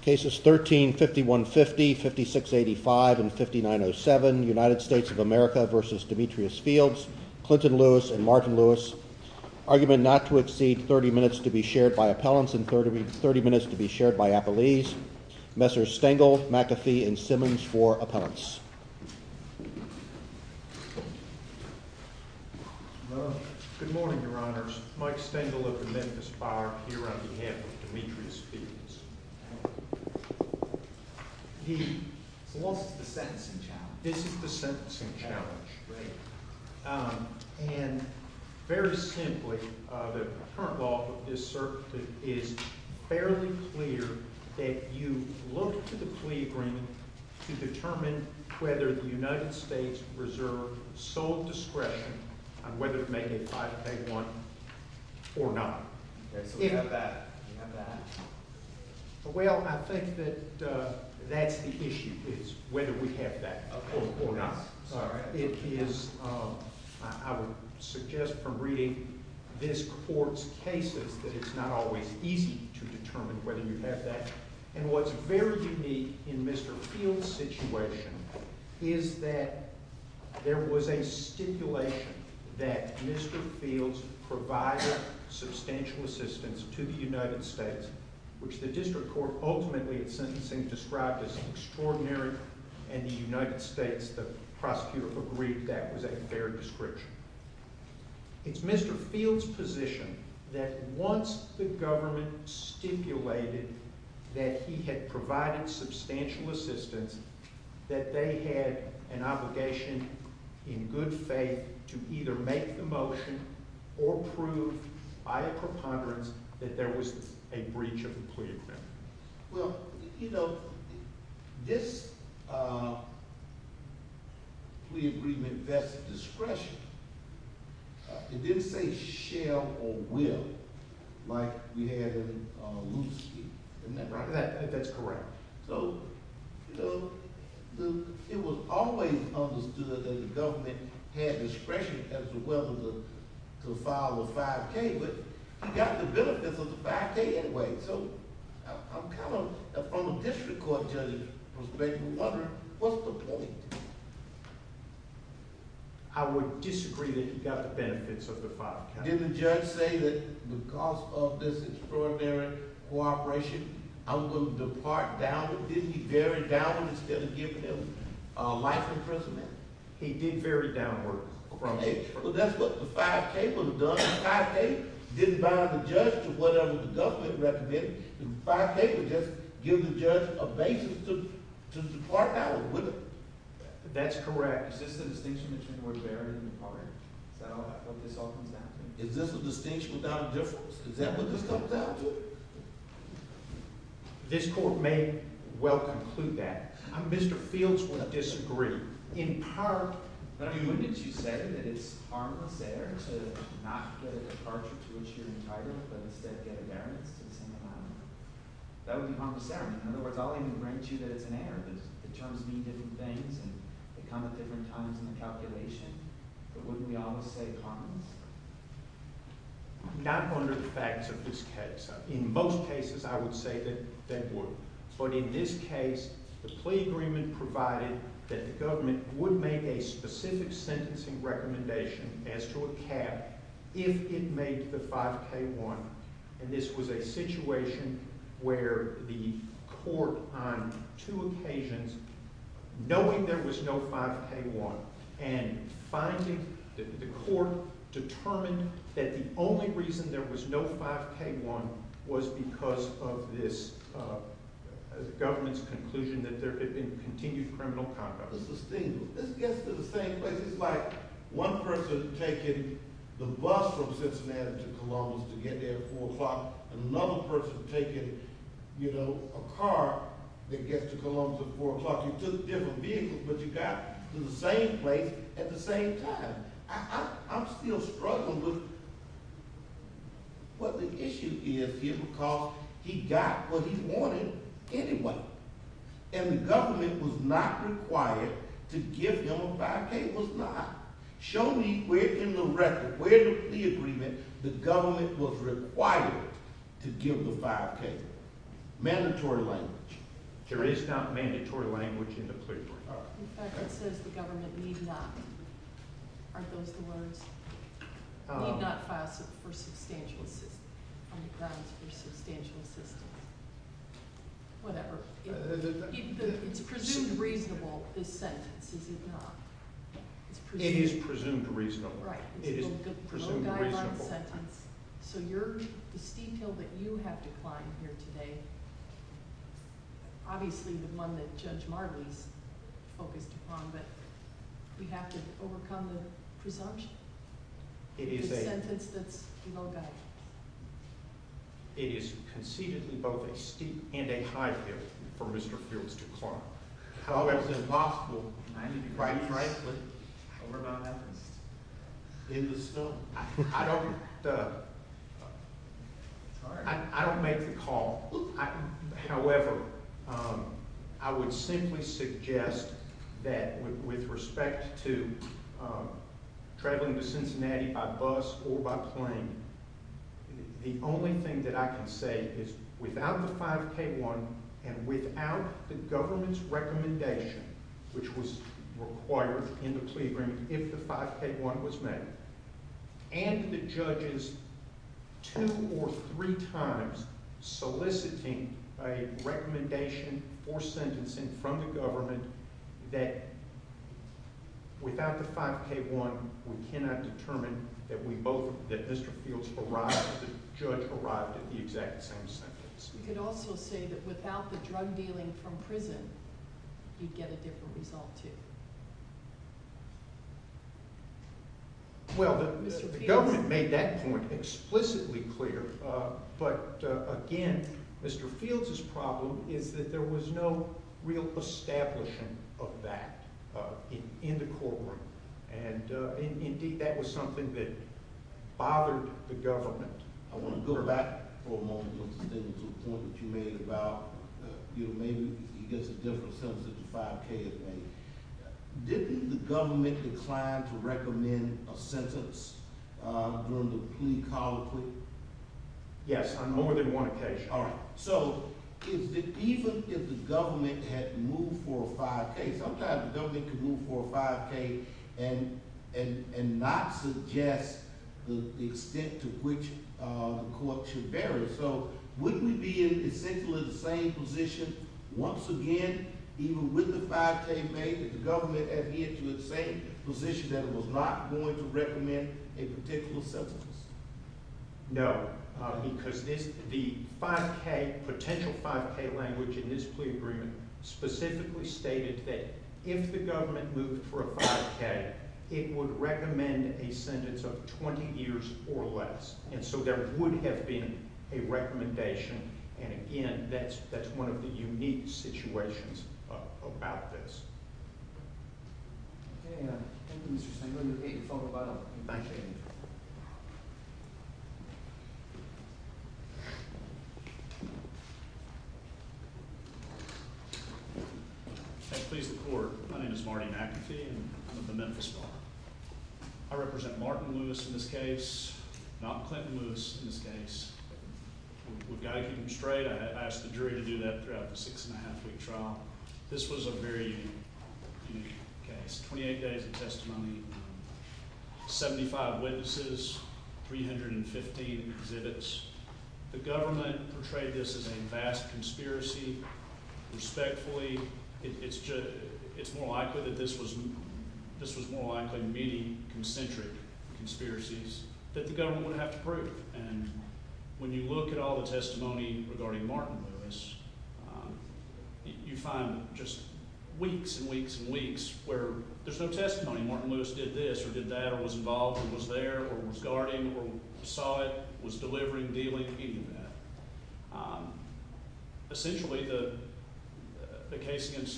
Cases 13-5150, 5685, and 5907, United States of America v. Demetrius Fields, Clinton-Lewis, and Martin-Lewis. Argument not to exceed 30 minutes to be shared by appellants and 30 minutes to be shared by appellees. Messrs. Stengel, McAfee, and Simmons for appellants. Good morning, your honors. Mike Stengel of the Memphis Fire here on behalf of Demetrius Fields. So what's the sentencing challenge? This is the sentencing challenge. Great. And very simply, the current law is fairly clear that you look to the plea agreement to determine whether the United States reserve sole discretion on whether to make a 5A1 or not. Okay, so we have that. We have that. Well, I think that that's the issue, is whether we have that or not. Sorry. It is, I would suggest from reading this court's cases that it's not always easy to determine whether you have that. And what's very unique in Mr. Fields' situation is that there was a stipulation that Mr. Fields provided substantial assistance to the United States, which the district court ultimately in sentencing described as extraordinary, and the United States, the prosecutor, agreed that was a fair description. It's Mr. Fields' position that once the government stipulated that he had provided substantial assistance, that they had an obligation in good faith to either make the motion or prove by a preponderance that there was a breach of the plea agreement. Well, you know, this plea agreement vests discretion. It didn't say shall or will, like we had in Lewinsky. Isn't that right? That's correct. So, you know, it was always understood that the government had discretion as to whether to file a 5K, but he got the benefits of the 5K anyway, so I'm kind of, from a district court judge's perspective, wondering, what's the point? I would disagree that he got the benefits of the 5K. Didn't the judge say that because of this extraordinary cooperation, I'm going to depart downward? Didn't he vary downward instead of giving him life imprisonment? He did vary downward. Well, that's what the 5K would have done. The 5K didn't bind the government recommended. The 5K would just give the judge a basis to depart downward, wouldn't it? That's correct. Is this a distinction that you would vary in the department? Is this a distinction without a difference? Is that what this comes down to? This court may well conclude that. Mr. Fields would disagree, in part due to what you said, that it's harmless error to not get a departure to which you're entitled, but instead get a bearance to the same amount. That would be harmless error. In other words, I'll even grant you that it's an error. The terms mean different things and they come at different times in the calculation, but wouldn't we always say harmless error? Not under the facts of this case. In most cases, I would say that they would. But in this case, the plea agreement provided that the government would make a specific sentencing recommendation as to a cap if it made the 5K-1, and this was a situation where the court on two occasions, knowing there was no 5K-1, and finding that the court determined that the only reason there was no 5K-1 was because of this government's conclusion that there was no 5K-1. This gets to the same place. It's like one person taking the bus from Cincinnati to Columbus to get there at 4 o'clock, another person taking a car that gets to Columbus at 4 o'clock. You took different vehicles, but you got to the same place at the same time. I'm still struggling with what the issue is here because he got what he wanted anyway, and the government was not required to give him a 5K-1. Show me where in the record, where in the agreement the government was required to give the 5K-1. Mandatory language. There is not mandatory language in the plea agreement. In fact, it says the government need not. Are those the words? Need not file for substantial assistance. Whatever. It's presumed reasonable, this sentence, is it not? It is presumed reasonable. Right. It's a low-guide-on sentence. So the steep hill that you have to climb here today, obviously the one that Judge Marley's focused upon, but we have to overcome the presumption? It is a sentence that's low-guide. It is conceivably both a steep and a high hill for Mr. Fields to climb. However, it's impossible, quite frankly, in the snow. I don't make the call. However, I would simply suggest that with respect to traveling to Cincinnati by bus or by plane, the only thing that I can say is without the 5K-1 and without the government's recommendation, which was required in the plea agreement if the 5K-1 was made, and the judges two or three times soliciting a recommendation or sentencing from the government that without the 5K-1 we cannot determine that Mr. Fields arrived, the judge arrived at the exact same sentence. You could also say that without the drug dealing from prison, you'd get a different result too. Well, the government made that point explicitly clear, but again, Mr. Fields' problem is that there was no real establishing of that in the courtroom. Indeed, that was something that bothered the government. I want to go back for a moment to the point that you made about maybe he gets a different sentence if the 5K is made. Didn't the government decline to recommend a sentence during the plea call? Yes, on more than one occasion. So, even if the government had moved for a 5K, sometimes the government could move for a 5K and not suggest the extent to which the court should vary. So, wouldn't we be in essentially the same position once again, even with the 5K made, that the government adhere to the same position that it was not going to recommend a particular sentence? No, because the potential 5K language in this plea agreement specifically stated that if the government moved for a 5K, it would recommend a sentence of 20 years or less. And so, there would have been a recommendation. And again, that's one of the unique situations about this. Thank you, Mr. Stangler. We'll get your phone number back later. Please, the court. My name is Marty McAfee, and I'm with the Memphis Bar. I represent Martin Lewis in this case, not Clinton Lewis in this case. We've got to keep him straight. I asked the jury to do that throughout the six-and-a-half-week trial. This was a very unique case. 28 days of testimony, 75 witnesses, 315 exhibits. The government portrayed this as a vast conspiracy. Respectfully, it's more likely that this was more likely many concentric conspiracies that the government would have to prove. And when you look at all the testimony regarding Martin Lewis, you find just weeks and weeks and weeks where there's no testimony. Martin Lewis did this, or did that, or was involved, or was there, or was guarding, or saw it, was delivering, dealing, any of that. Essentially, the case against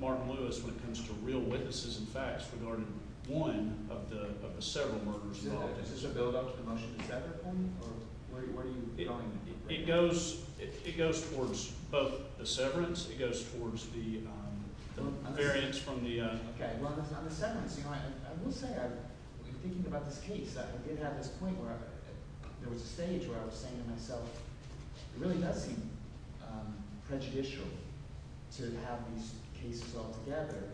Martin Lewis, when it comes to real witnesses and facts, regarded one of the several murders involved. Is this a build-up to the motion to sever it for me? Or where are you going with it? It goes towards both the severance. It goes towards the variance from the... Okay, well, on the severance, you know, I will say, I'm thinking about this case. I did have this point where there was a stage where I was saying to myself, it really does seem prejudicial to have these cases all together.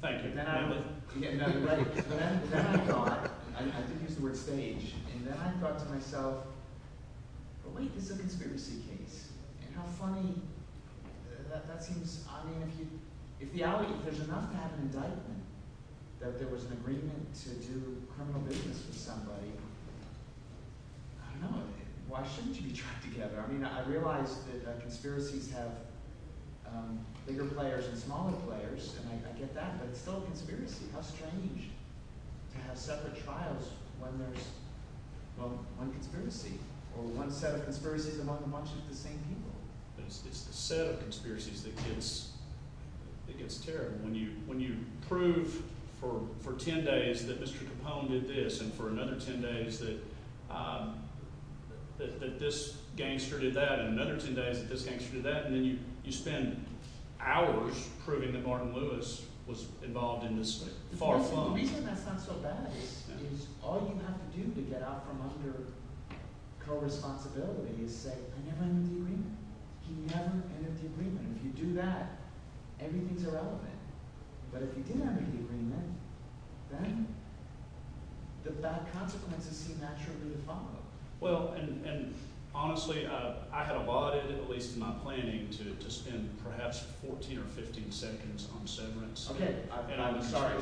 Thank you. Yeah, no, you're right. But then I thought, I did use the word stage, and then I thought to myself, but wait, this is a conspiracy case. And how funny, that seems... I mean, if there's enough to have an indictment, that there was an agreement to do criminal business with somebody, I don't know, why shouldn't you be trapped together? I mean, I realize that conspiracies have bigger players and smaller players, and I get that, but it's still a conspiracy. How strange to have separate trials when there's, well, one conspiracy, or one set of conspiracies among a bunch of the same people. It's the set of conspiracies that gets terrible. When you prove for ten days that Mr. Capone did this, and for another ten days that this gangster did that, and another ten days that this gangster did that, and then you spend hours proving that Martin Lewis was involved in this far-flung... The reason that's not so bad is all you have to do to get out from under co-responsibility is say, I never ended the agreement. He never ended the agreement. If you do that, everything's irrelevant. But if you did end the agreement, then the bad consequences seem naturally to follow. Well, and honestly, I had abided, at least in my planning, to spend perhaps 14 or 15 seconds on severance. Okay, I'm sorry.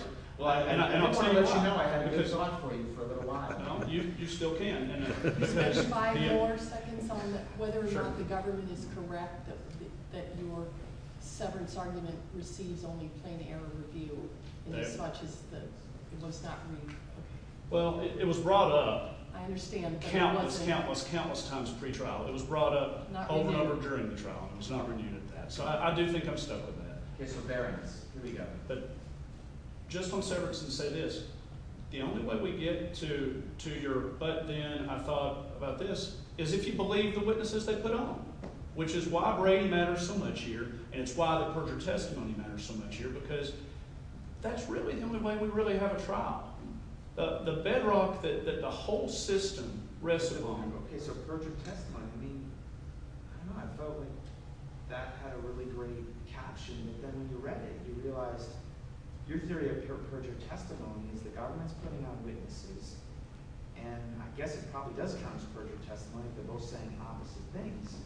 I didn't want to let you know I had a good thought for you for the lie. You still can. Can you spend five more seconds on whether or not the government is correct that your severance argument receives only plain error review, inasmuch as it was not read? Well, it was brought up. I understand. Countless, countless, countless times pre-trial. It was brought up over and over during the trial. It was not renewed at that. So I do think I'm stuck with that. Okay, severance. Here we go. But just on severance and say this, the only way we get to your, but then I thought about this, is if you believe the witnesses they put on, which is why Brady matters so much here, and it's why the Perjury Testimony matters so much here, because that's really the only way we really have a trial. The bedrock that the whole system rests upon. Okay, so Perjury Testimony. I mean, I don't know. I felt like that had a really great caption. But then when you read it, you realize your theory of your Perjury Testimony is the government's putting on witnesses. And I guess it probably does count as Perjury Testimony if they're both saying opposite things.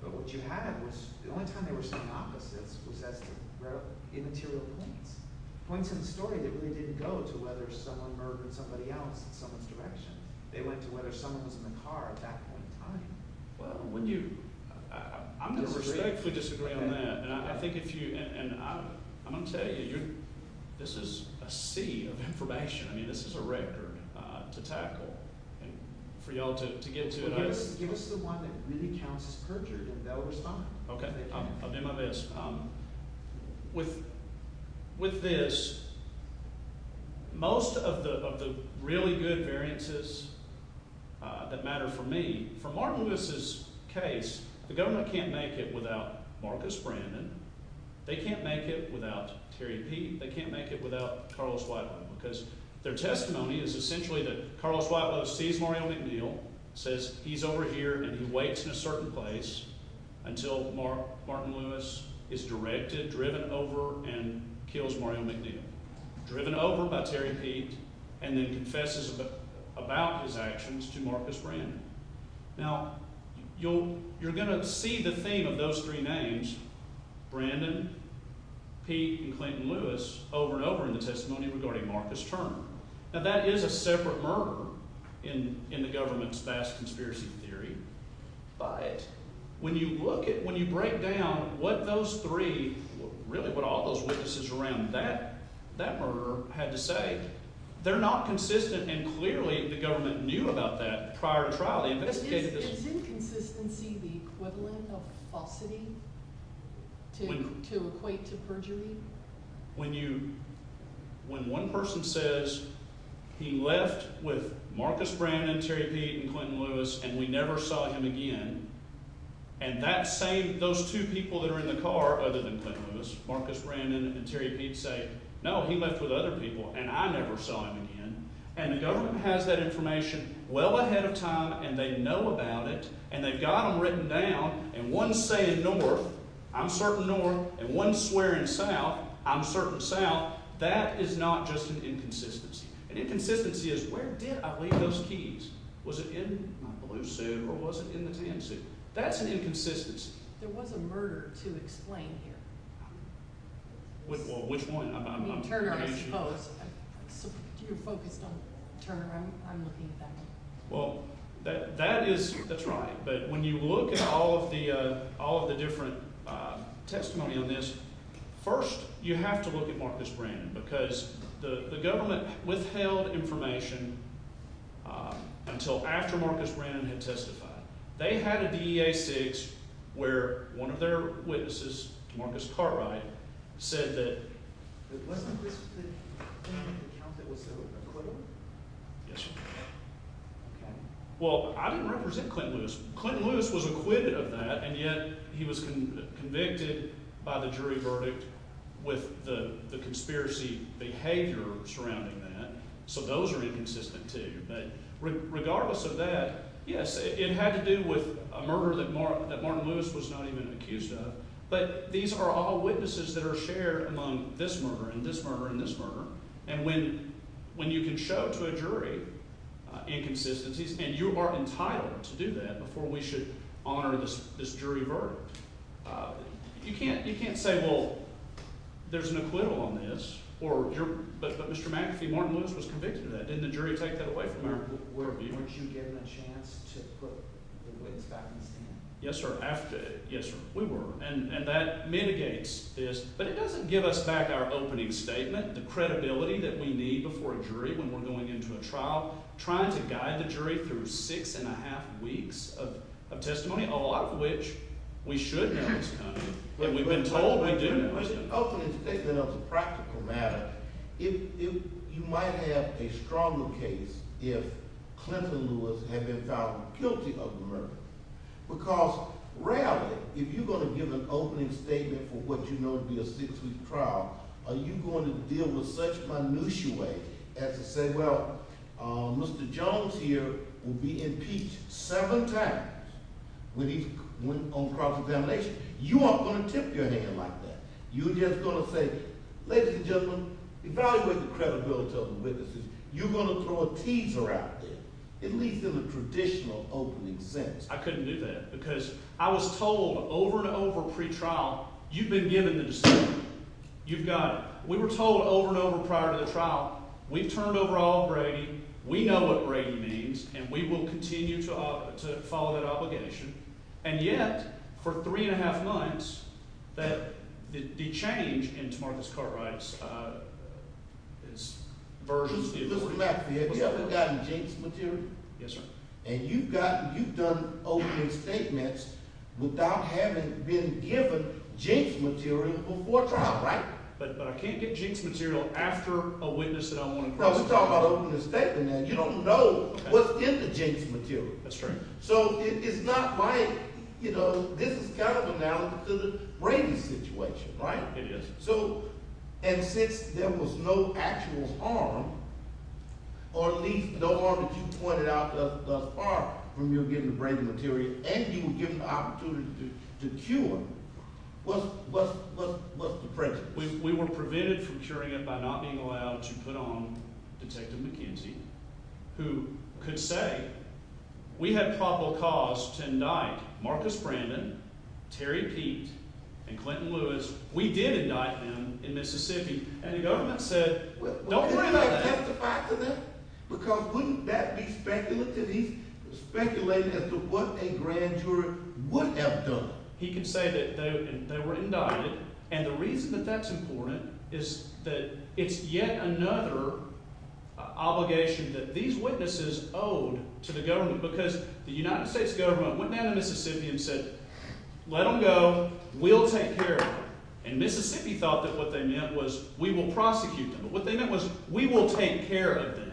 But what you had was the only time they were saying opposites was as to where the immaterial points. Points in the story that really didn't go to whether someone murdered somebody else in someone's direction. They went to whether someone was in the car at that point in time. Well, wouldn't you... I'm going to respectfully disagree on that. And I think if you, and I'm going to tell you, this is a sea of information. I mean, this is a record to tackle. And for y'all to get to it... Give us the one that really counts as perjured, and they'll respond. Okay, I'll do my best. With this, most of the really good variances that matter for me, for Martin Lewis' case, the government can't make it without Marcus Brandon. They can't make it without Terry Peete. They can't make it without Carlos Whitelow. Because their testimony is essentially that Carlos Whitelow sees Mario McNeil, says, he's over here, and he waits in a certain place until Martin Lewis is directed, driven over, and kills Mario McNeil. Driven over by Terry Peete, and then confesses about his actions to Marcus Brandon. Now, you're going to see the theme of those three names, Brandon, Peete, and Clinton Lewis, over and over in the testimony regarding Marcus Turner. Now, that is a separate murder in the government's vast conspiracy theory. But when you look at, when you break down what those three, really what all those witnesses around that murder had to say, they're not consistent, and clearly the government knew about that prior to trial. Is inconsistency the equivalent of falsity to equate to perjury? When one person says, he left with Marcus Brandon, Terry Peete, and Clinton Lewis, and we never saw him again, and that same, those two people that are in the car, other than Clinton Lewis, Marcus Brandon and Terry Peete, say, no, he left with other people, and I never saw him again, and the government has that information well ahead of time, and they know about it, and they've got them written down, and one's saying north, I'm certain north, and one's swearing south, I'm certain south, that is not just an inconsistency. An inconsistency is, where did I leave those keys? Was it in my blue suit, or was it in the tan suit? That's an inconsistency. There was a murder to explain here. Which one? Turner, I suppose. You're focused on Turner, I'm looking at that one. Well, that is, that's right, but when you look at all of the different testimony on this, first, you have to look at Marcus Brandon, because the government withheld information until after Marcus Brandon had testified. They had a DEA six where one of their witnesses, Marcus Cartwright, said that... Wasn't this the account that was acquitted? Yes, sir. Okay. Well, I didn't represent Clinton Lewis. Clinton Lewis was acquitted of that, and yet he was convicted by the jury verdict with the conspiracy behavior surrounding that, so those are inconsistent, too. But regardless of that, yes, it had to do with a murder that Martin Lewis was not even accused of, but these are all witnesses that are shared among this murderer and this murderer and this murderer, and when you can show to a jury inconsistencies, and you are entitled to do that before we should honor this jury verdict, you can't say, well, there's an acquittal on this, but Mr. McAfee, Martin Lewis was convicted of that. Didn't the jury take that away from our view? Weren't you given a chance to put the witness back in the stand? Yes, sir. Yes, sir, we were, and that mitigates this, but it doesn't give us back our opening statement, the credibility that we need before a jury when we're going into a trial, trying to guide the jury through 6 1⁄2 weeks of testimony, that we've been told we do know is coming. If there's an opening statement of the practical matter, you might have a stronger case if Clinton Lewis had been found guilty of the murder, because rarely, if you're going to give an opening statement for what you know to be a six-week trial, are you going to deal with such minutiae as to say, well, Mr. Jones here will be impeached seven times when he went on cross-examination. You aren't going to tip your hand like that. You're just going to say, ladies and gentlemen, evaluate the credibility of the witnesses. You're going to throw a teaser out there, at least in the traditional opening sentence. I couldn't do that, because I was told over and over pre-trial, you've been given the decision. You've got it. We were told over and over prior to the trial, we've turned over all of Brady, we know what Brady means, and we will continue to follow that obligation, and yet, for three-and-a-half months, the change in Tomartha Cartwright's version... Listen back to the idea. We've gotten jinxed material. And you've done opening statements without having been given jinxed material before trial, right? But I can't get jinxed material after a witness that I want to cross-examine. You don't know what's in the jinxed material. That's true. So it's not my... This is kind of analogous to the Brady situation, right? It is. And since there was no actual harm, or at least no harm that you pointed out thus far, from you getting the Brady material, and you were given the opportunity to cure him, what's the prejudice? We were prevented from curing him by not being allowed to put on Detective McKenzie, who could say, we have probable cause to indict Marcus Brandon, Terry Peet, and Clinton Lewis. We did indict them in Mississippi. And the government said, don't bring them back. Didn't they testify to that? Because wouldn't that be speculating as to what a grand juror would have done? He could say that they were indicted, and the reason that that's important is that it's yet another obligation that these witnesses owed to the government. Because the United States government went down to Mississippi and said, let them go, we'll take care of them. And Mississippi thought that what they meant was, we will prosecute them. What they meant was, we will take care of them.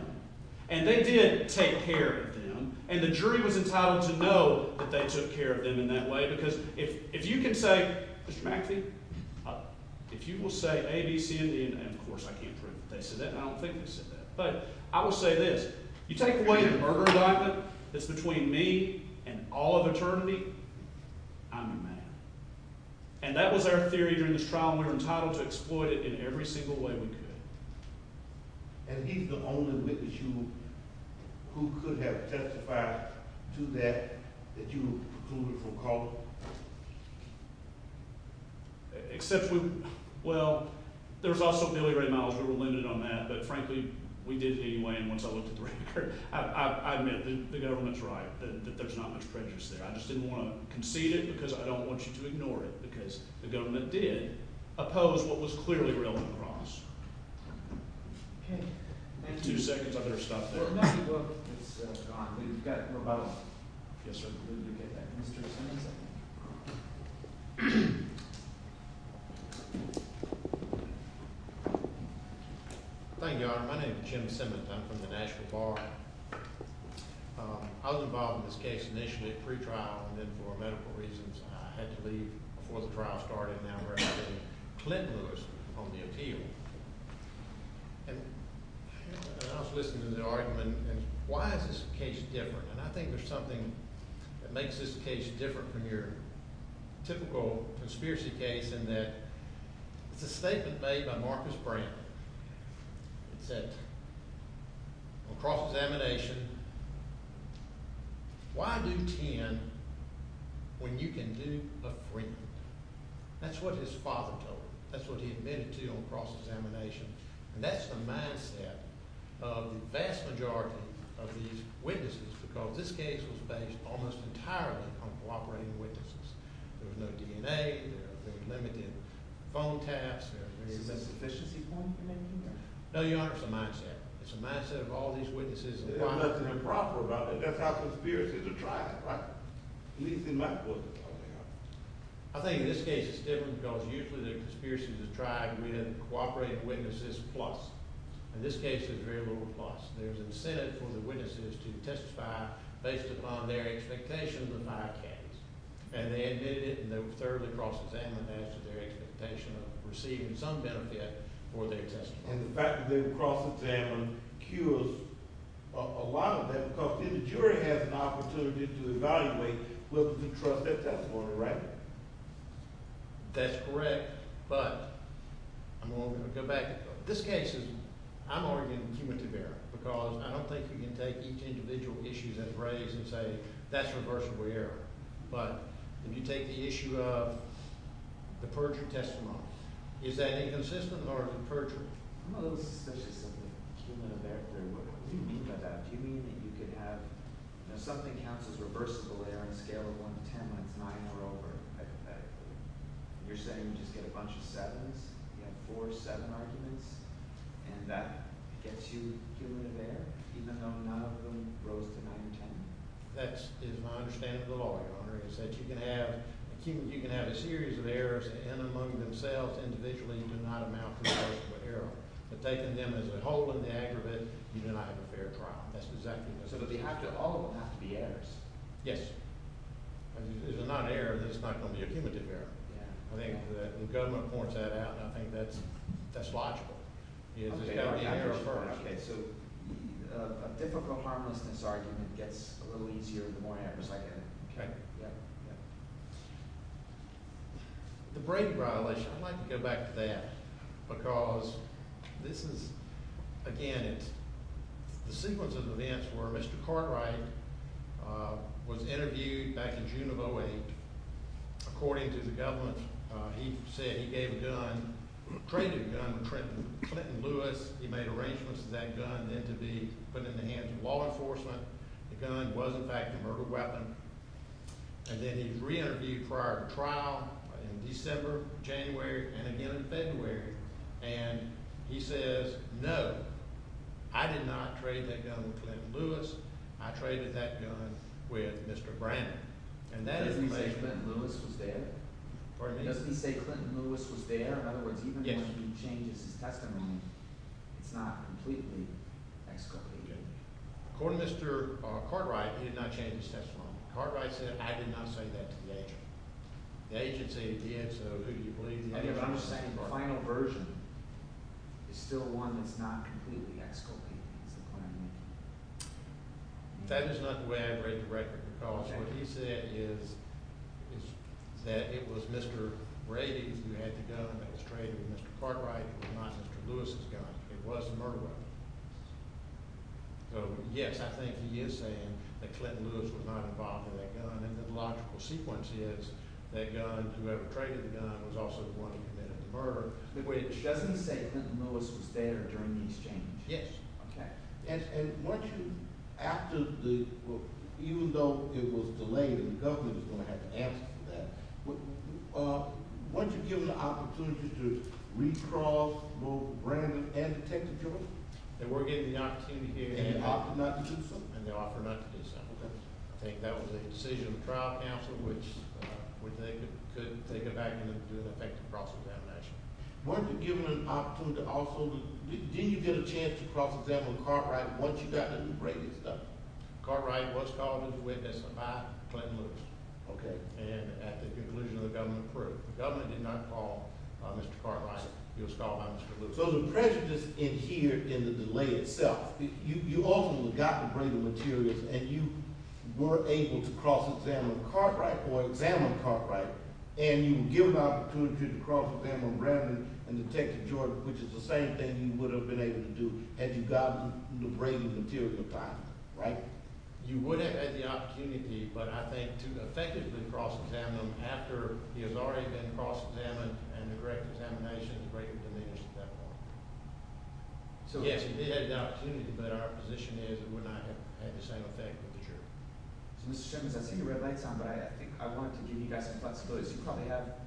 And they did take care of them. And the jury was entitled to know that they took care of them in that way. Because if you can say, Mr. McAfee, if you will say A, B, C, and D, and of course, I can't prove that they said that, and I don't think they said that, but I will say this, you take away the murder indictment that's between me and all of eternity, I'm your man. And that was our theory during this trial, and we were entitled to exploit it in every single way we could. And he's the only witness you, who could have testified to that, that you procluded from calling? Well, except we, well, there was also nearly ready mileage, we were limited on that, but frankly, we did anyway, and once I looked at the record, I admit, the government's right, that there's not much prejudice there. I just didn't want to concede it, because I don't want you to ignore it. Because the government did oppose what was clearly relevant to us. Two seconds, I better stop there. Well, now you look, it's gone. We've got, we're about to, Yes, sir. Thank you, Your Honor. My name is Jim Simmons, I'm from the Nashville Bar. I was involved in this case initially at pre-trial, and then for medical reasons, I had to leave before the trial started, and now we're at the Clinton list on the appeal. And I was listening to the argument, and why is this case different? And I think there's something that makes this case different from your typical conspiracy case in that it's a statement made by Marcus Brown that said on cross-examination, why do 10 when you can do a 3? That's what his father told him. That's what he admitted to on cross-examination. And that's the mindset of the vast majority of these witnesses, because this case was based almost entirely on cooperating witnesses. There was no DNA, there were limited phone taps, Is this a sufficiency point you're making here? No, Your Honor, it's a mindset. It's a mindset of all these witnesses. There's nothing improper about it. That's how conspiracies are tried. At least in my book. I think this case is different because usually the conspiracies are tried within cooperating witnesses plus. In this case, there's very little plus. There's incentive for the witnesses to testify based upon their expectations of my case. And they admitted it and they were thoroughly cross-examined as to their expectation of receiving some benefit for their testimony. And the fact that they were cross-examined cures a lot of that because then the jury has an opportunity to evaluate whether they trust their testimony or not. That's correct. But, I'm going to go back. In this case, I'm arguing cumulative error because I don't think you can take each individual issue that's raised and say that's reversible error. But, if you take the issue of the perjury testimony, is that inconsistent or is it perjury? I'm a little suspicious of the cumulative error theory. What do you mean by that? Do you mean that you could have something counts as reversible error on a scale of 1 to 10 when it's 9 or over? Hypothetically. You're saying you just get a bunch of 7s and you have 4 or 7 arguments and that gets you cumulative error even though none of them rose to 9 or 10? That is my understanding of the law, Your Honor, is that you can have a series of errors and among themselves individually do not amount to reversible error. But taking them as a whole in the aggregate, you do not have a fair trial. That's exactly what I'm saying. So all of them have to be errors? Yes. If they're not errors, then it's not going to be a cumulative error. I think the government points that out and I think that's logical. It's got to be errors first. So a difficult, harmlessness argument gets a little easier the more errors I get. The Brady violation, I'd like to go back to that because this is, again, it's the sequence of events where Mr. Cartwright was interviewed back in June of 2008. According to the government, he said he gave a gun, traded a gun with Clinton Lewis. He made arrangements for that gun to be put in the hands of law enforcement. The gun was, in fact, a murder weapon. And then he re-interviewed prior to trial in December, January, and again in February. And he says, no, I did not trade that gun with Clinton Lewis. I traded that gun with Mr. Brannon. Doesn't he say Clinton Lewis was there? Pardon me? Doesn't he say Clinton Lewis was there? In other words, even when he changes his testimony, it's not completely exculpated. According to Mr. Cartwright, he did not change his testimony. Cartwright said, I did not say that to the agency. The agency did, so who do you believe? The final version is still one that's not completely exculpated. That is not the way I'd rate the record because what he said is that it was Mr. Brady who had the gun that was traded with Mr. Cartwright. It was not Mr. Lewis' gun. It was a murder weapon. So yes, I think he is saying that Clinton Lewis was not involved in that gun. And the logical sequence is that gun, whoever traded the gun, was also the one who committed the murder. Doesn't he say Clinton Lewis was there during the exchange? Yes. Even though it was delayed and the government was going to have to answer for that, weren't you given the opportunity to recrawl both Brandon and Detective George? They were given the opportunity here and they offered not to do so. I think that was a decision of the trial counsel which they could take it back and do an effective process. Weren't you given an opportunity to also, did you get a chance to cross-examine Cartwright once you got Mr. Brady's gun? Cartwright was called into witness by Clinton Lewis. Okay. And at the conclusion of the government court. The government did not call Mr. Cartwright. He was called by Mr. Lewis. So the prejudice adhered in the delay itself. You also got to bring the materials and you were able to cross-examine Cartwright or examine Cartwright and you were given the opportunity to cross-examine Brandon and Detective George which is the same thing you would have been able to do had you gotten the Brady material in time, right? You would have had the opportunity but I think to effectively cross-examine them after he has already been cross-examined and the correct examination has already been finished at that point. Yes, you did have the opportunity but our position is it would not have had the same effect with the jury. Mr. Simmons, I see the red lights on but I think I want to give you guys some flexibility. You probably have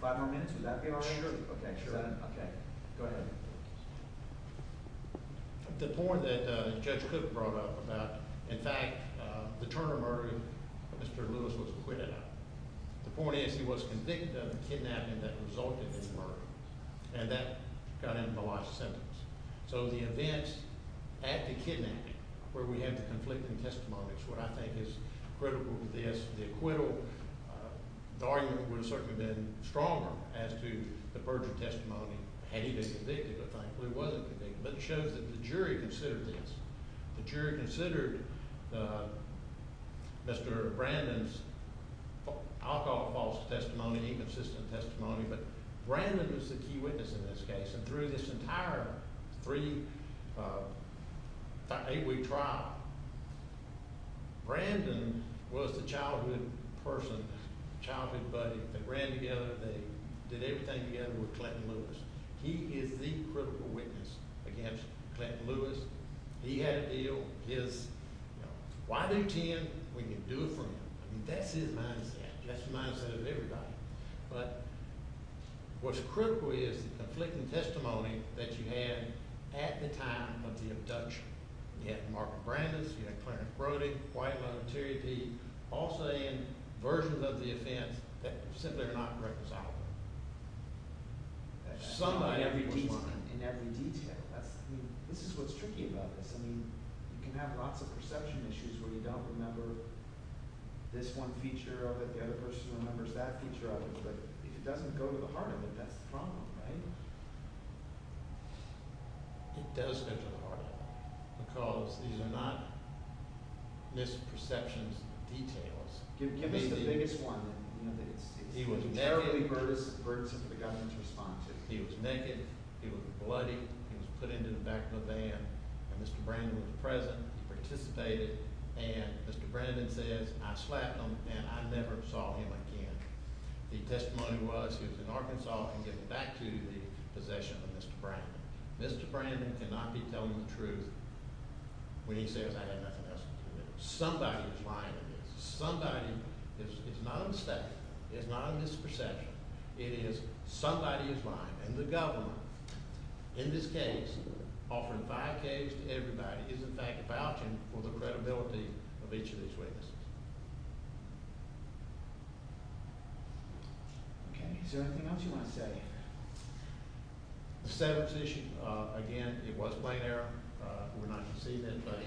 five more minutes. Would that be all right? Okay. Go ahead. The point that Judge Cook brought up about in fact the Turner murder Mr. Lewis was acquitted of. The point is he was convicted of the kidnapping that resulted in his murder and that got him the last sentence. So the events at the kidnapping where we have the conflicting testimonies, what I think is critical to this, the acquittal the argument would have certainly been stronger as to the virgin testimony had he been convicted but thankfully wasn't convicted. But it shows that the jury considered this. The jury considered Mr. Brandon's alcohol false testimony, inconsistent testimony but Brandon was the key witness in this case and through this entire three eight week trial Brandon was the childhood person childhood buddy. They ran together they did everything together with Clayton Lewis. He is the critical witness against Clayton Lewis. He had a deal his, you know, why do ten when you can do it for him? That's his mindset. That's the mindset of everybody. But what's critical is the conflicting testimony that you had at the time of the abduction. You had Mark and Brandon's, you had Clarence Brody, White Love, Terry P all saying versions of the offense that simply are not correct as I would have liked. That's true in every detail. In every detail. This is what's tricky about this. You can have lots of perception issues where you don't remember this one feature of it, the other person remembers that feature of it, but if it doesn't go to the heart of it, that's the problem, right? It does go to the heart of it. Because these are not misperceptions of details. Give us the biggest one. He was naked. He was naked, he was bloody, he was put into the back of the van, and Mr. Brandon was present, he participated, and Mr. Brandon says, I slapped him and I never saw him again. The testimony was in Arkansas, I can get it back to the possession of Mr. Brandon. Mr. Brandon cannot be telling the truth when he says I had nothing else to do with it. Somebody is lying in this. Somebody is not a mistake, is not a misperception, it is somebody is lying, and the government in this case, offering five K's to everybody, is in fact vouching for the credibility of each of these witnesses. Okay, is there anything else you want to say? The set-ups issue, again, it was plain error, we're not going to see that, but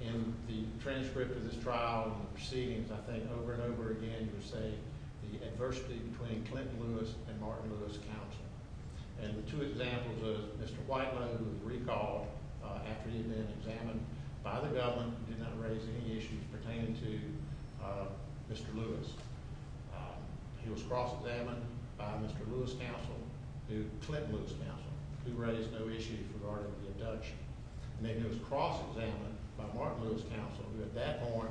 in the transcript of this trial and the proceedings, I think over and over again you say the adversity between Clinton Lewis and Martin Lewis counsel. And the two examples of Mr. Whitelow recalled after he had been examined by the government, did not raise any issues pertaining to Mr. Lewis. He was cross-examined by Mr. Lewis counsel to Clinton Lewis counsel, who raised no issues regarding the abduction. And then he was cross-examined by Martin Lewis counsel, who at that point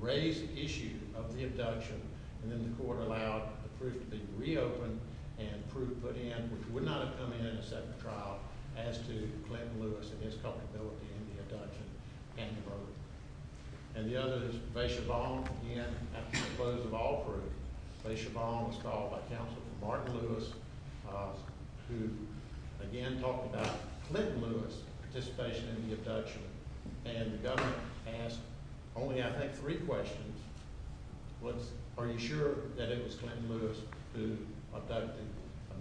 raised the issue of the abduction, and then the court allowed the proof to be reopened and proof put in, which would not have come in a second trial, as to Clinton Lewis and his culpability in the abduction and the murder. And the other is Vaishabal, again, after the close of all proof, Vaishabal was called by counsel from Martin Lewis who, again, talked about Clinton Lewis's participation in the abduction. And the government asked only, I think, three questions. Are you sure that it was Clinton Lewis who abducted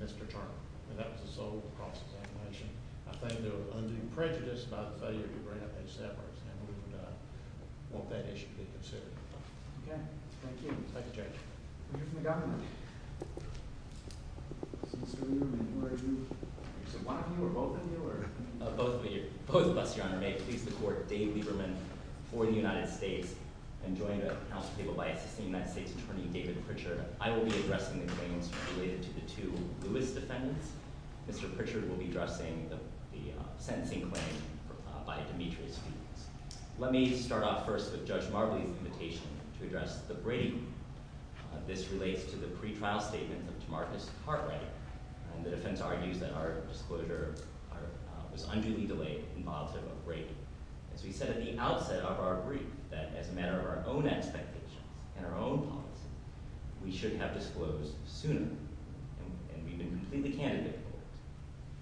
Mr. Turner? And that was the sole cross-examination. I think there was undue prejudice about the failure to bring up Vaishabal, and we would want that issue to be considered. Okay. Thank you. We'll hear from the government. Mr. Lieberman, who are you? Is it one of you or both of you? Both of us, Your Honor. May it please the Court, Dave Lieberman for the United States and joined at the House table by Assistant United States Attorney David Pritchard. I will be addressing the claims related to the two Lewis defendants. Mr. Pritchard will be addressing the Demetrius fiends. Let me start off first with Judge Marbley's invitation to address the Brady group. This relates to the pre-trial statement of DeMarcus Cartwright. The defense argues that our disclosure was unduly delayed in volitive of Brady. As we said at the outset of our brief, that as a matter of our own expectations and our own policy, we should have disclosed sooner. And we've been completely candid about it.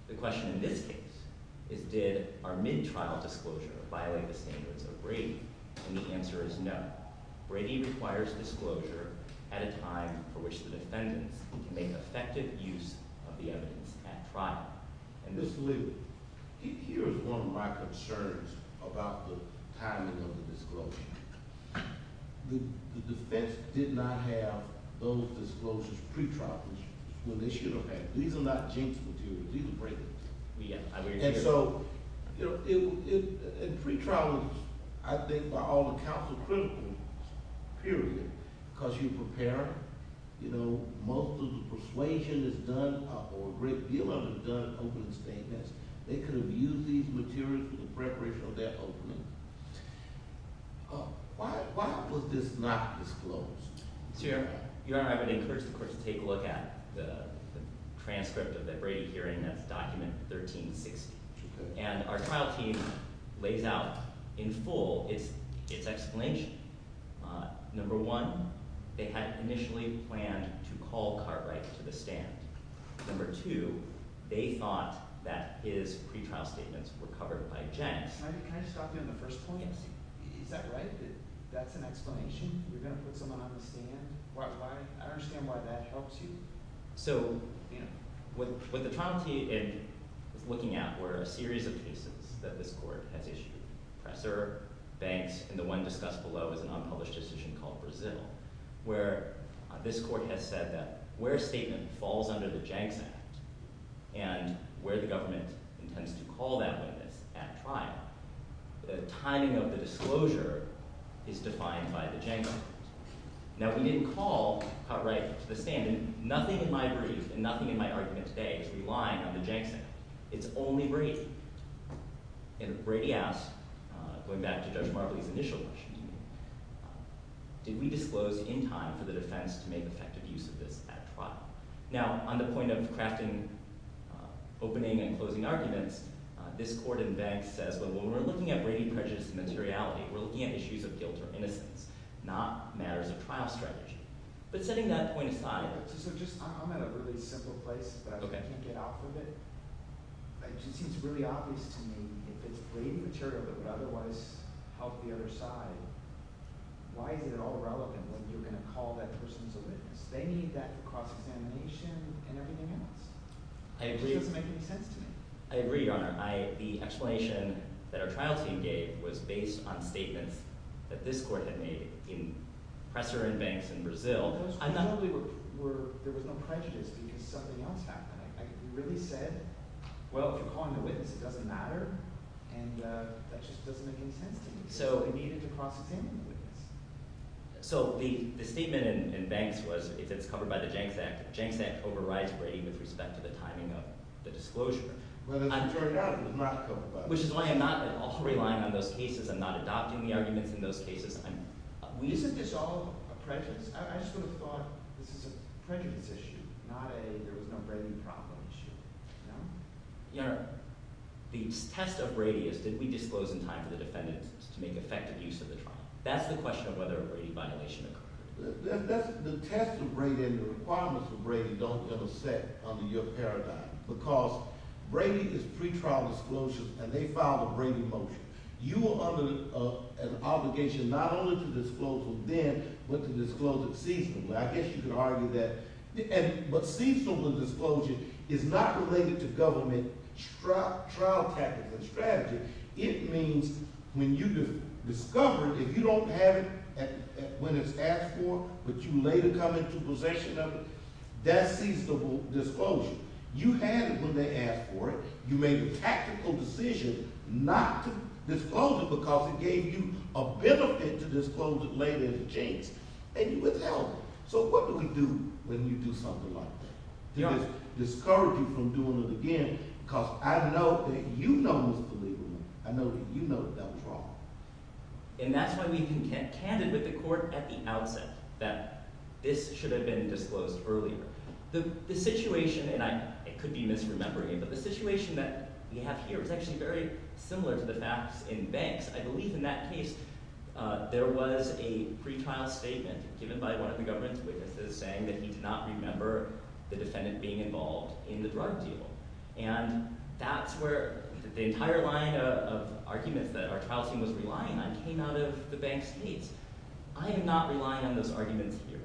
The question in this case is did our mid-trial disclosure violate the standards of Brady? And the answer is no. Brady requires disclosure at a time for which the defendants can make effective use of the evidence at trial. Mr. Lieberman, here is one of my concerns about the timing of the disclosure. The defense did not have those disclosures pre-trial. These are not jinks these are Brady's. And so in pre-trial I think by all accounts period because you prepare most of the persuasion is done or a great deal of it is done over the statements. They could have used these materials for the preparation of their opening. Why was this not disclosed? I would encourage the court to take a look at the transcript of the Brady hearing. That's document 1360. And our trial team lays out in full its explanation. Number one, they had initially planned to call Cartwright to the stand. Number two, they thought that his pre-trial statements were covered by Jenks. Can I just stop you on the first point? Is that right? That's an explanation? You're going to put someone on the stand? I understand why that helps you. So, what the trial team was looking at were a series of cases that this court has issued. Presser, Banks, and the one discussed below is an unpublished decision called Brazil where this court has said that where a statement falls under the Jenks Act and where the government intends to call that witness at trial the timing of the disclosure is defined by the Jenks Act. Now, we didn't call Cartwright to the stand and nothing in my brief and nothing in my argument today is relying on the Jenks Act. It's only Brady. And if Brady asks, going back to Judge Marbley's initial question to me, did we disclose in time for the defense to make effective use of this at trial? Now, on the point of crafting opening and closing arguments, this court in Banks says that when we're looking at Brady prejudice and materiality, we're looking at issues of guilt or innocence, not matters of trial strategy. But setting that point aside... I'm at a really simple place, but I can't get off of it. It just seems really obvious to me if it's Brady material that would otherwise help the other side, why is it at all relevant when you're going to call that person as a witness? They need that cross-examination and everything else. It just doesn't make any sense to me. I agree, Your Honor. The explanation that our trial team gave was based on statements that this court had made in Presser and Banks in Brazil. There was no prejudice because something else happened. I really said, well, if you're calling the witness, it doesn't matter, and that just doesn't make any sense to me. We needed to cross-examine the witness. So, the statement in Banks was, if it's covered by the Jenks Act, the Jenks Act overrides Brady with respect to the timing of the disclosure. Well, the majority of it was not I'm not relying on those cases. I'm not adopting the arguments in those cases. Isn't this all a prejudice? I just would have thought this is a prejudice issue, not a there was no Brady problem issue. Your Honor, the test of Brady is did we disclose in time for the defendants to make effective use of the trial? That's the question of whether a Brady violation occurred. The test of Brady and the requirements of Brady don't intersect under your paradigm because Brady is pre-trial disclosure and they filed a Brady motion. You are under an obligation not only to disclose from then, but to disclose it seasonably. I guess you could argue that but seasonable disclosure is not related to government trial tactics and strategy. It means when you discover, if you don't have it when it's asked for, but you later come into possession of it, that's seasonable disclosure. You had it when they asked for it. You made a tactical decision not to disclose it because it gave you a benefit to disclose it later as a chance. So what do we do when you do something like that? Discourage you from doing it again because I know that you know that that was wrong. And that's why we contended with the court at the outset that this should have been disclosed earlier. The situation, and it could be misremembering, but the situation that we have here is actually very similar to the facts in banks. I believe in that case there was a pretrial statement given by one of the government's witnesses saying that he did not remember the defendant being involved in the drug deal. And that's where the entire line of arguments that our trial team was relying on came out of the bank's case. I am not relying on those arguments here.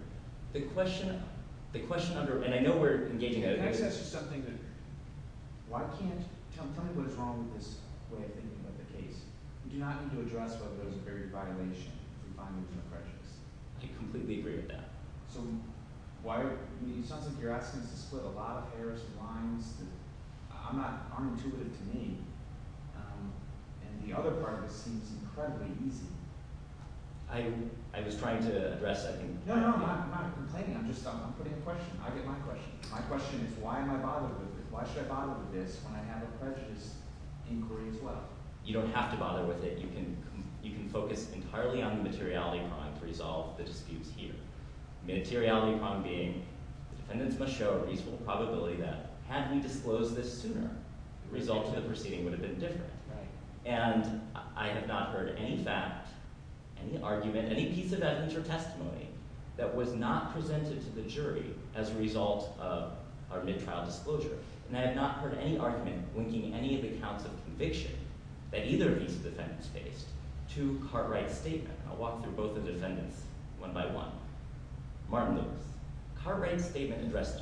The question under, and I know we're engaging Can I just ask you something? Tell me what is wrong with this way of thinking about the case. You do not need to address whether there was a barrier to violation to find that there was no prejudice. I completely agree with that. It sounds like you're asking us to split a lot of hairs and lines that aren't intuitive to me. And the other part of it seems incredibly easy. I was trying to address... No, I'm not complaining. I'm just putting a question. I get my question. My question is why am I bothered with this? Why should I bother with this when I have a prejudice inquiry as well? You don't have to bother with it. You can focus entirely on the materiality crime to resolve the disputes here. The materiality crime being the defendants must show a reasonable probability that had we disclosed this sooner, the results of the proceeding would have been different. And I have not heard any fact, any argument, any piece of evidence or testimony that was not presented to the jury as a result of our mid-trial disclosure. And I have not heard any argument linking any of the counts of conviction that either of these defendants faced to Cartwright's statement. I'll walk through both the defendants one by one. Martin Lewis. Cartwright's statement addressed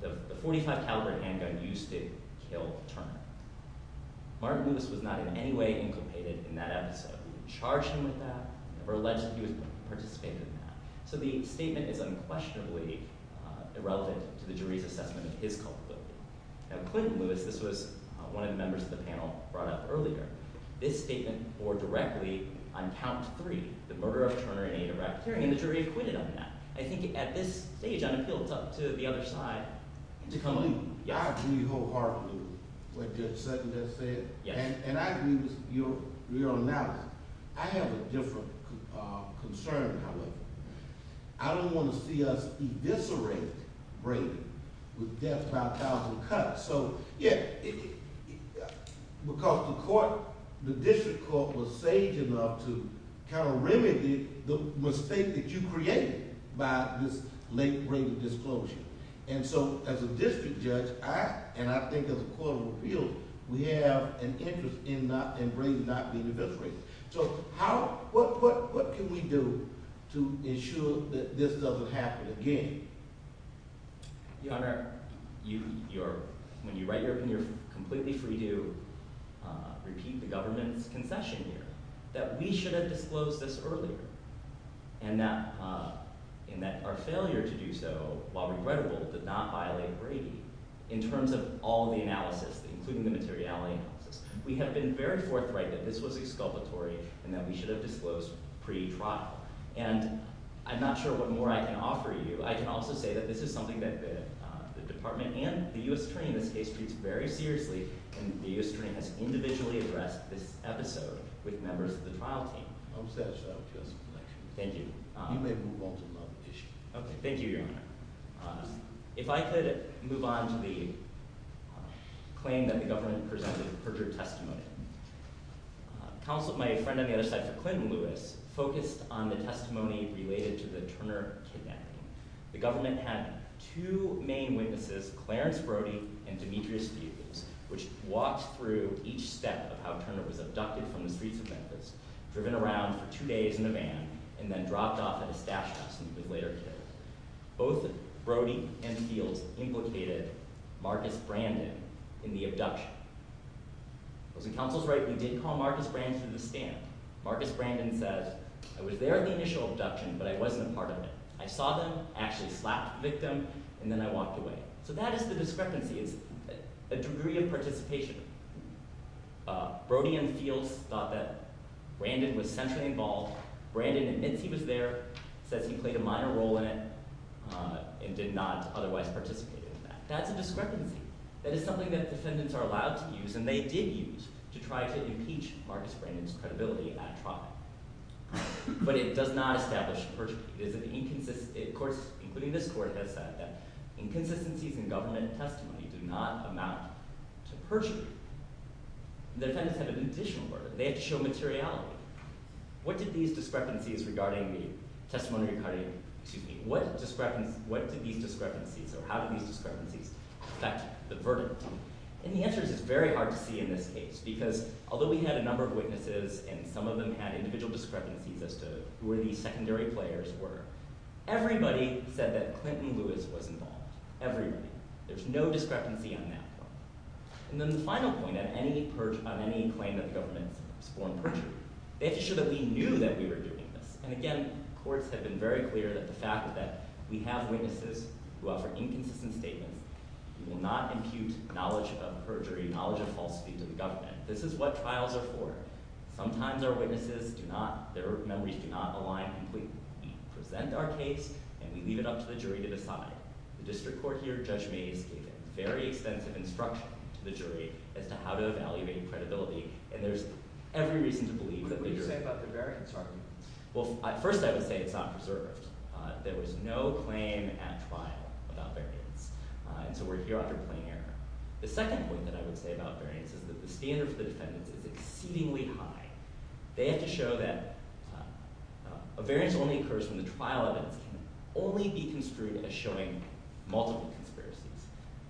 the .45 caliber handgun used to kill Turner. Martin Lewis was not in any way inculcated in that episode. We didn't charge him with that, never alleged that he participated in that. So the statement is unquestionably irrelevant to the jury's assessment of his culpability. Now, Clinton Lewis, this was one of the members of the panel brought up earlier, this statement bore directly on count three, the murder of Turner in Ada Rapturing, and the jury acquitted on that. I think at this stage, I feel it's up to the other side to come in. I agree wholeheartedly with what Judge Sutton has said, and I agree with your analysis. I have a different concern, however. I don't want to see us eviscerate Brayden with death by a thousand cuts. Because the district court was sage enough to remedy the mistake that you created by this late Brayden disclosure. As a district judge, and I think as a court of appeal, we have an interest in Brayden not being eviscerated. So what can we do to ensure that this doesn't happen again? Your Honor, when you write your opinion, you're completely free to repeat the government's concession here, that we should have disclosed this earlier. And that our failure to do so, while regrettable, did not violate Brady. In terms of all the analysis, including the materiality analysis, we have been very forthright that this was exculpatory and that we should have disclosed pre-trial. And I'm not sure what more I can offer you. I can also say that this is something that the department and the U.S. Train, this case, treats very seriously, and the U.S. Train has individually addressed this episode with members of the trial team. I'm satisfied with your explanation. Thank you. You may move on to another issue. Okay, thank you, Your Honor. If I could move on to the claim that the government presented a perjured testimony. Counsel, my friend on the other side for Clinton, Lewis, focused on the testimony related to the Turner kidnapping. The government had two main witnesses, Clarence Brody and Demetrius Beutels, which walked through each step of how Turner was abducted from the streets of Memphis, driven around for two days in a van, and then dropped off at his stash house, and he was later killed. Both Brody and Beutels implicated Marcus Brandon in the abduction. Was the counsels right? We did call Marcus Brandon to the stand. Marcus Brandon says, I was there at the initial abduction, but I wasn't a part of it. I saw them, actually slapped the victim, and then I walked away. So that is the discrepancy. It's a degree of participation. Brody and Beutels thought that Brandon was centrally involved. Brandon admits he was there, says he played a minor role in it, and did not otherwise participate in that. That's a discrepancy. That is something that defendants are allowed to use, and they did use, to try to impeach Marcus Brandon's credibility at trial. But it does not establish perjury. Of course, including this court, has said that inconsistencies in government testimony do not amount to perjury. The defendants have an additional burden. They have to show materiality. What did these discrepancies regarding the testimonial recording, what did these discrepancies, or how did these discrepancies affect the verdict? And the answer is very hard to see in this case, because although we had a number of witnesses, and some of them had individual discrepancies as to who the secondary players were, everybody said that Clinton Lewis was involved. Everybody. There's no discrepancy on that one. And then the final point, on any claim that the government has sworn perjury, they have to show that we knew that we were doing this. And again, courts have been very clear that the fact that we have witnesses who offer inconsistent statements, we will not impute knowledge of perjury, knowledge of falsity to the government. This is what trials are for. Sometimes our witnesses do not, their memories do not align completely. We present our case, and we leave it up to the jury to decide. The district court here, Judge Mays, gave very extensive instruction to the jury as to how to evaluate credibility, and there's every reason to believe that the jury... What would you say about the variance argument? Well, first I would say it's not preserved. There was no claim at trial about variance. And so we're here after plain error. The second point that I would say about variance is that the standard for the defendants is exceedingly high. They have to show that a variance only occurs when the trial evidence can only be construed as showing multiple conspiracies.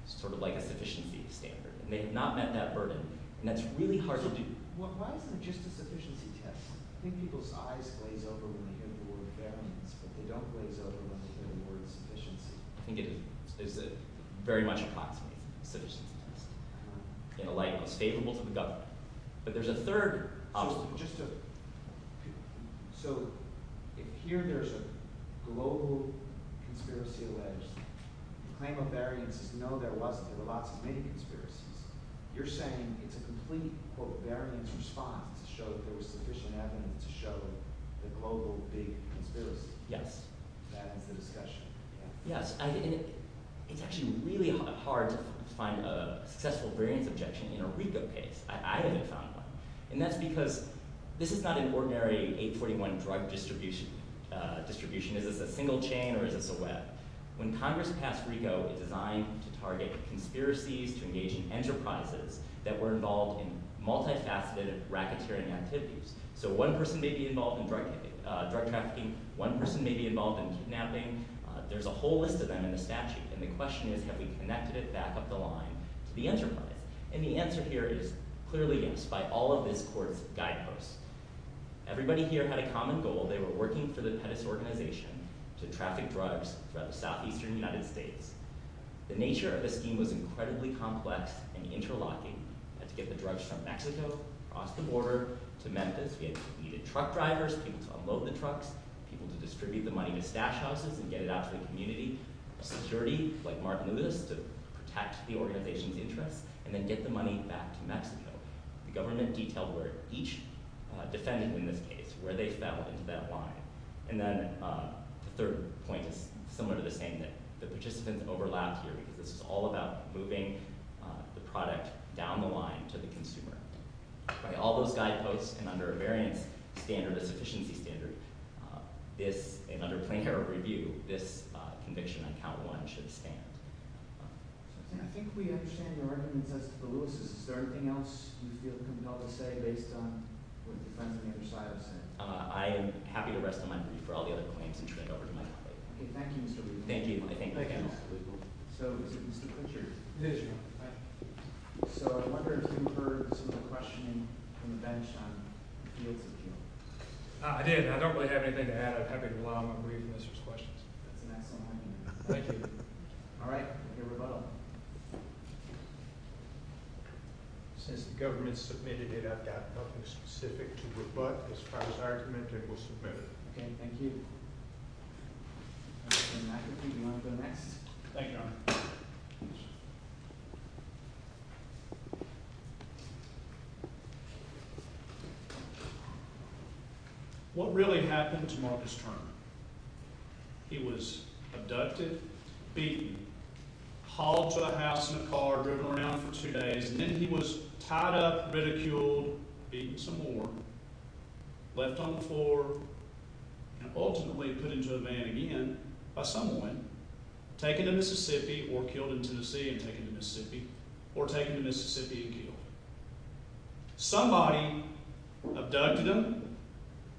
It's sort of like a sufficiency standard. They have not met that burden, and that's really hard to do. Why isn't it just a sufficiency test? I think people's eyes glaze over when they hear the word variance, but they don't glaze over when they hear the word sufficiency. I think it is very much a class-based sufficiency test, in a light that's favorable to the government. But there's a third obstacle. So, if here there's a global conspiracy alleged, the claim of variance is no, there wasn't. There were lots of many conspiracies. You're saying it's a complete variance response to show that there was sufficient evidence to show the global big conspiracy. That ends the discussion. Yes, and it's actually really hard to find a successful variance objection in a RICO case. I haven't found one. And that's because this is not an ordinary 841 drug distribution. Is this a single chain, or is this a web? When Congress passed RICO, it designed to target conspiracies to engage in enterprises that were involved in multifaceted racketeering activities. So one person may be involved in drug trafficking, one person may be involved in kidnapping. There's a whole list of them in the statute. And the question is, have we connected it back up the line to the enterprise? And the answer here is clearly yes, by all of this court's guideposts. Everybody here had a common goal. They were working for the Pettus organization to traffic drugs throughout the southeastern United States. The nature of the scheme was incredibly complex and interlocking. We had to get the drugs from Mexico, across the border to Memphis. We needed truck drivers, people to unload the trucks, people to distribute the money to stash houses and get it out to the community. Security, like Martin Luther, to protect the organization's interests, and then get the money back to Mexico. The government detailed where each defendant in this case, where they fell into that line. And then the third point is similar to the same thing. The participants overlapped here because this is all about moving the product down the line to the consumer. By all those guideposts and under a variance standard, a sufficiency standard, and under plain error review, this conviction on count one should stand. I think we understand your arguments as to the Lewises. Is there anything else you feel compelled to say based on what the defense on the other side have said? I am happy to rest of my brief for all the other claims and turn it over to my colleague. Okay, thank you, Mr. Lewis. Thank you. So, is it Mr. Kutcher? It is you. So, I wonder if you heard some of the questioning from the bench on the fields of appeal. I did, and I don't really have anything to add. I'm happy to allow my brief and Mr.'s questions. That's an excellent idea. Thank you. All right, your rebuttal. Since the government submitted it, I've got nothing specific to rebut. As far as argument, it was submitted. Okay, thank you. Mr. McAfee, you want to go next? Thank you, Your Honor. What really happened to Marcus Turner? He was abducted, beaten, hauled to a house in a car, driven around for two days, and then he was tied up, ridiculed, beaten some more, left on the floor, and ultimately put into a van again by someone, taken to Mississippi, or killed in Tennessee and taken to Mississippi, or taken to Mississippi and killed. Somebody abducted him,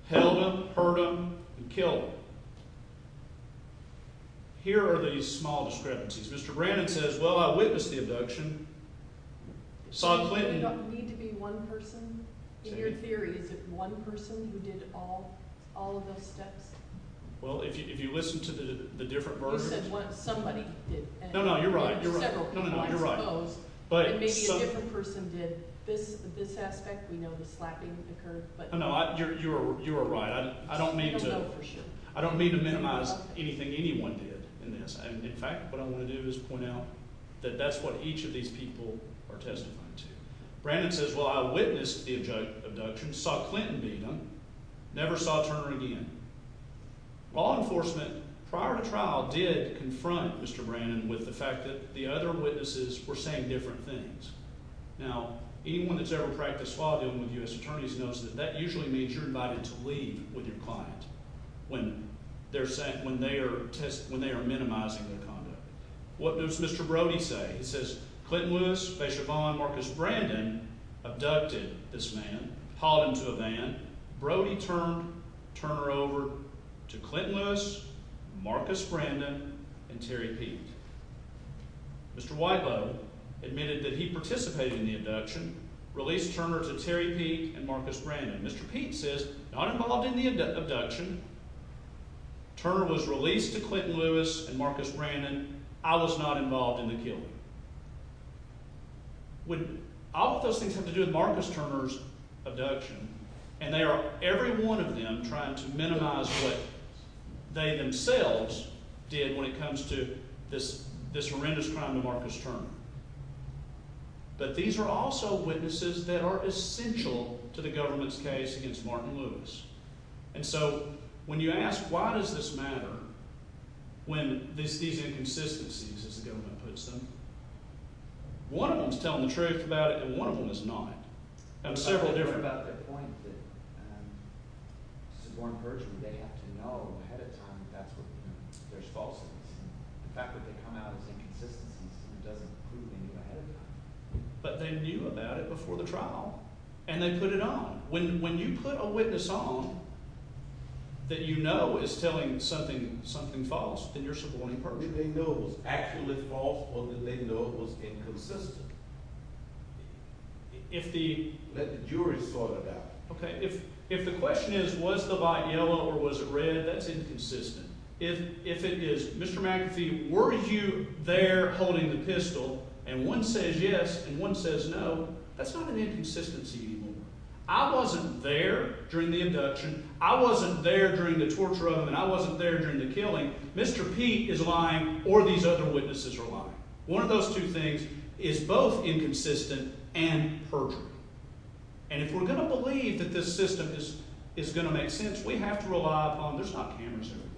held him, hurt him, and killed him. Here are the small discrepancies. Mr. Brannon says, well, I witnessed the abduction. Saw Clinton... In your theory, is it one person who did all of those steps? Well, if you listen to the different versions... You said somebody did. No, no, you're right. Maybe a different person did. This aspect, we know the slapping occurred. You are right. I don't mean to... I don't mean to minimize anything anyone did in this. In fact, what I want to do is point out that that's what each of these people are testifying to. Brannon says, well, I witnessed the abduction, saw Clinton beat him, never saw Turner again. Law enforcement, prior to trial, did confront Mr. Brannon with the fact that the other witnesses were saying different things. Now, anyone that's ever practiced law dealing with U.S. attorneys knows that that usually means you're invited to leave with your client when they're minimizing their conduct. What does Mr. Brody say? He says, Clinton Lewis, Faishavon, Marcus Brannon abducted this man, hauled him to a van. Brody turned Turner over to Clinton Lewis, Marcus Brannon, and Terry Peete. Mr. Whitelow admitted that he participated in the abduction, released Turner to Terry Peete and Marcus Brannon. Mr. Peete says, not involved in the Turner was released to Clinton Lewis and Marcus Brannon. I was not involved in the killing. All of those things have to do with Marcus Turner's abduction, and they are, every one of them, trying to minimize what they themselves did when it comes to this horrendous crime to Marcus Turner. But these are also witnesses that are essential to the government's case against Martin Lewis. And so, when you ask, why does this matter when these inconsistencies, as the government puts them, one of them is telling the truth about it, and one of them is not. There are several different... But they knew about it before the trial, and they put it on. When you put a witness on that you know is telling something false, then you're supporting perjury. If the question is, was the light yellow or was it red, that's inconsistent. If it is, Mr. McAfee, were you there holding the pistol, and one says yes and one says no, that's not an inconsistency anymore. I wasn't there during the induction, I wasn't there during the torture of him, and I wasn't there during the killing. Mr. Pete is lying, or these other witnesses are lying. One of those two things is both inconsistent and perjury. And if we're going to believe that this system is going to make sense, we have to rely upon... There's not cameras everywhere.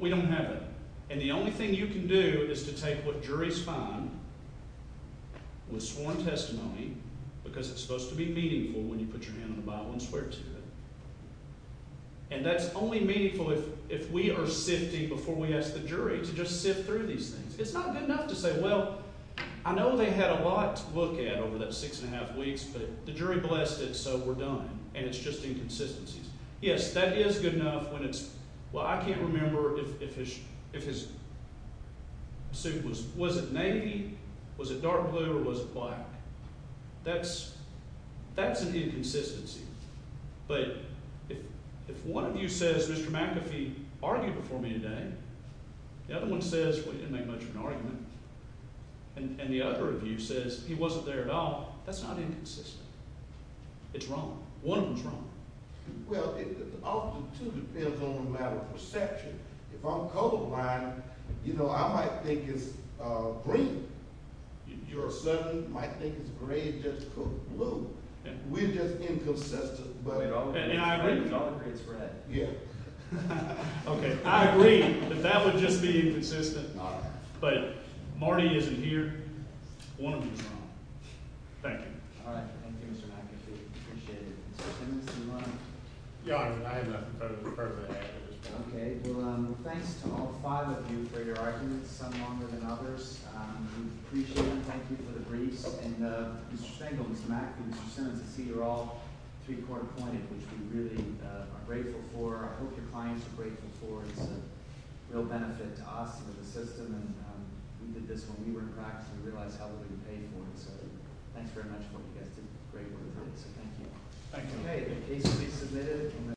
We don't have it. And the only thing you can do is to take what juries find with sworn testimony, because it's supposed to be meaningful when you put your hand on the Bible and swear to it. And that's only meaningful if we are sifting before we ask the jury to just sift through these things. It's not good enough to say, well, I know they had a lot to look at over that six and a half weeks, but the jury blessed it so we're done, and it's just inconsistencies. Yes, that is good enough when it's... Well, I can't remember if his suit was... Was it navy? Was it dark blue, or was it black? That's an inconsistency. But if one of you says, Mr. McAfee argued before me today, the other one says, well, he didn't make much of an argument, and the other of you says, he wasn't there at all, that's not inconsistent. It's wrong. One of them's wrong. Well, it also too depends on the matter of perception. If I'm colorblind, you know, I might think it's green. Your son might think it's gray, just blue. We're just inconsistent. And I agree. It's red. Yeah. Okay, I agree that that would just be inconsistent, but Marty isn't here. One of them's wrong. Thank you. All right. Thank you, Mr. McAfee. Appreciate it. Mr. Simmons, do you want to... Yeah, I have nothing Thanks to all five of you for your arguments, some longer than others. We appreciate it. Thank you for the briefs. And Mr. Spangl, Mr. McAfee, Mr. Simmons, I see you're all three-quarter-pointed, which we really are grateful for. I hope your clients are grateful for it. It's a real benefit to us and to the system. We did this when we were in practice, and we realized how little we paid for it. Thanks very much for what you guys did. Great work. Thank you.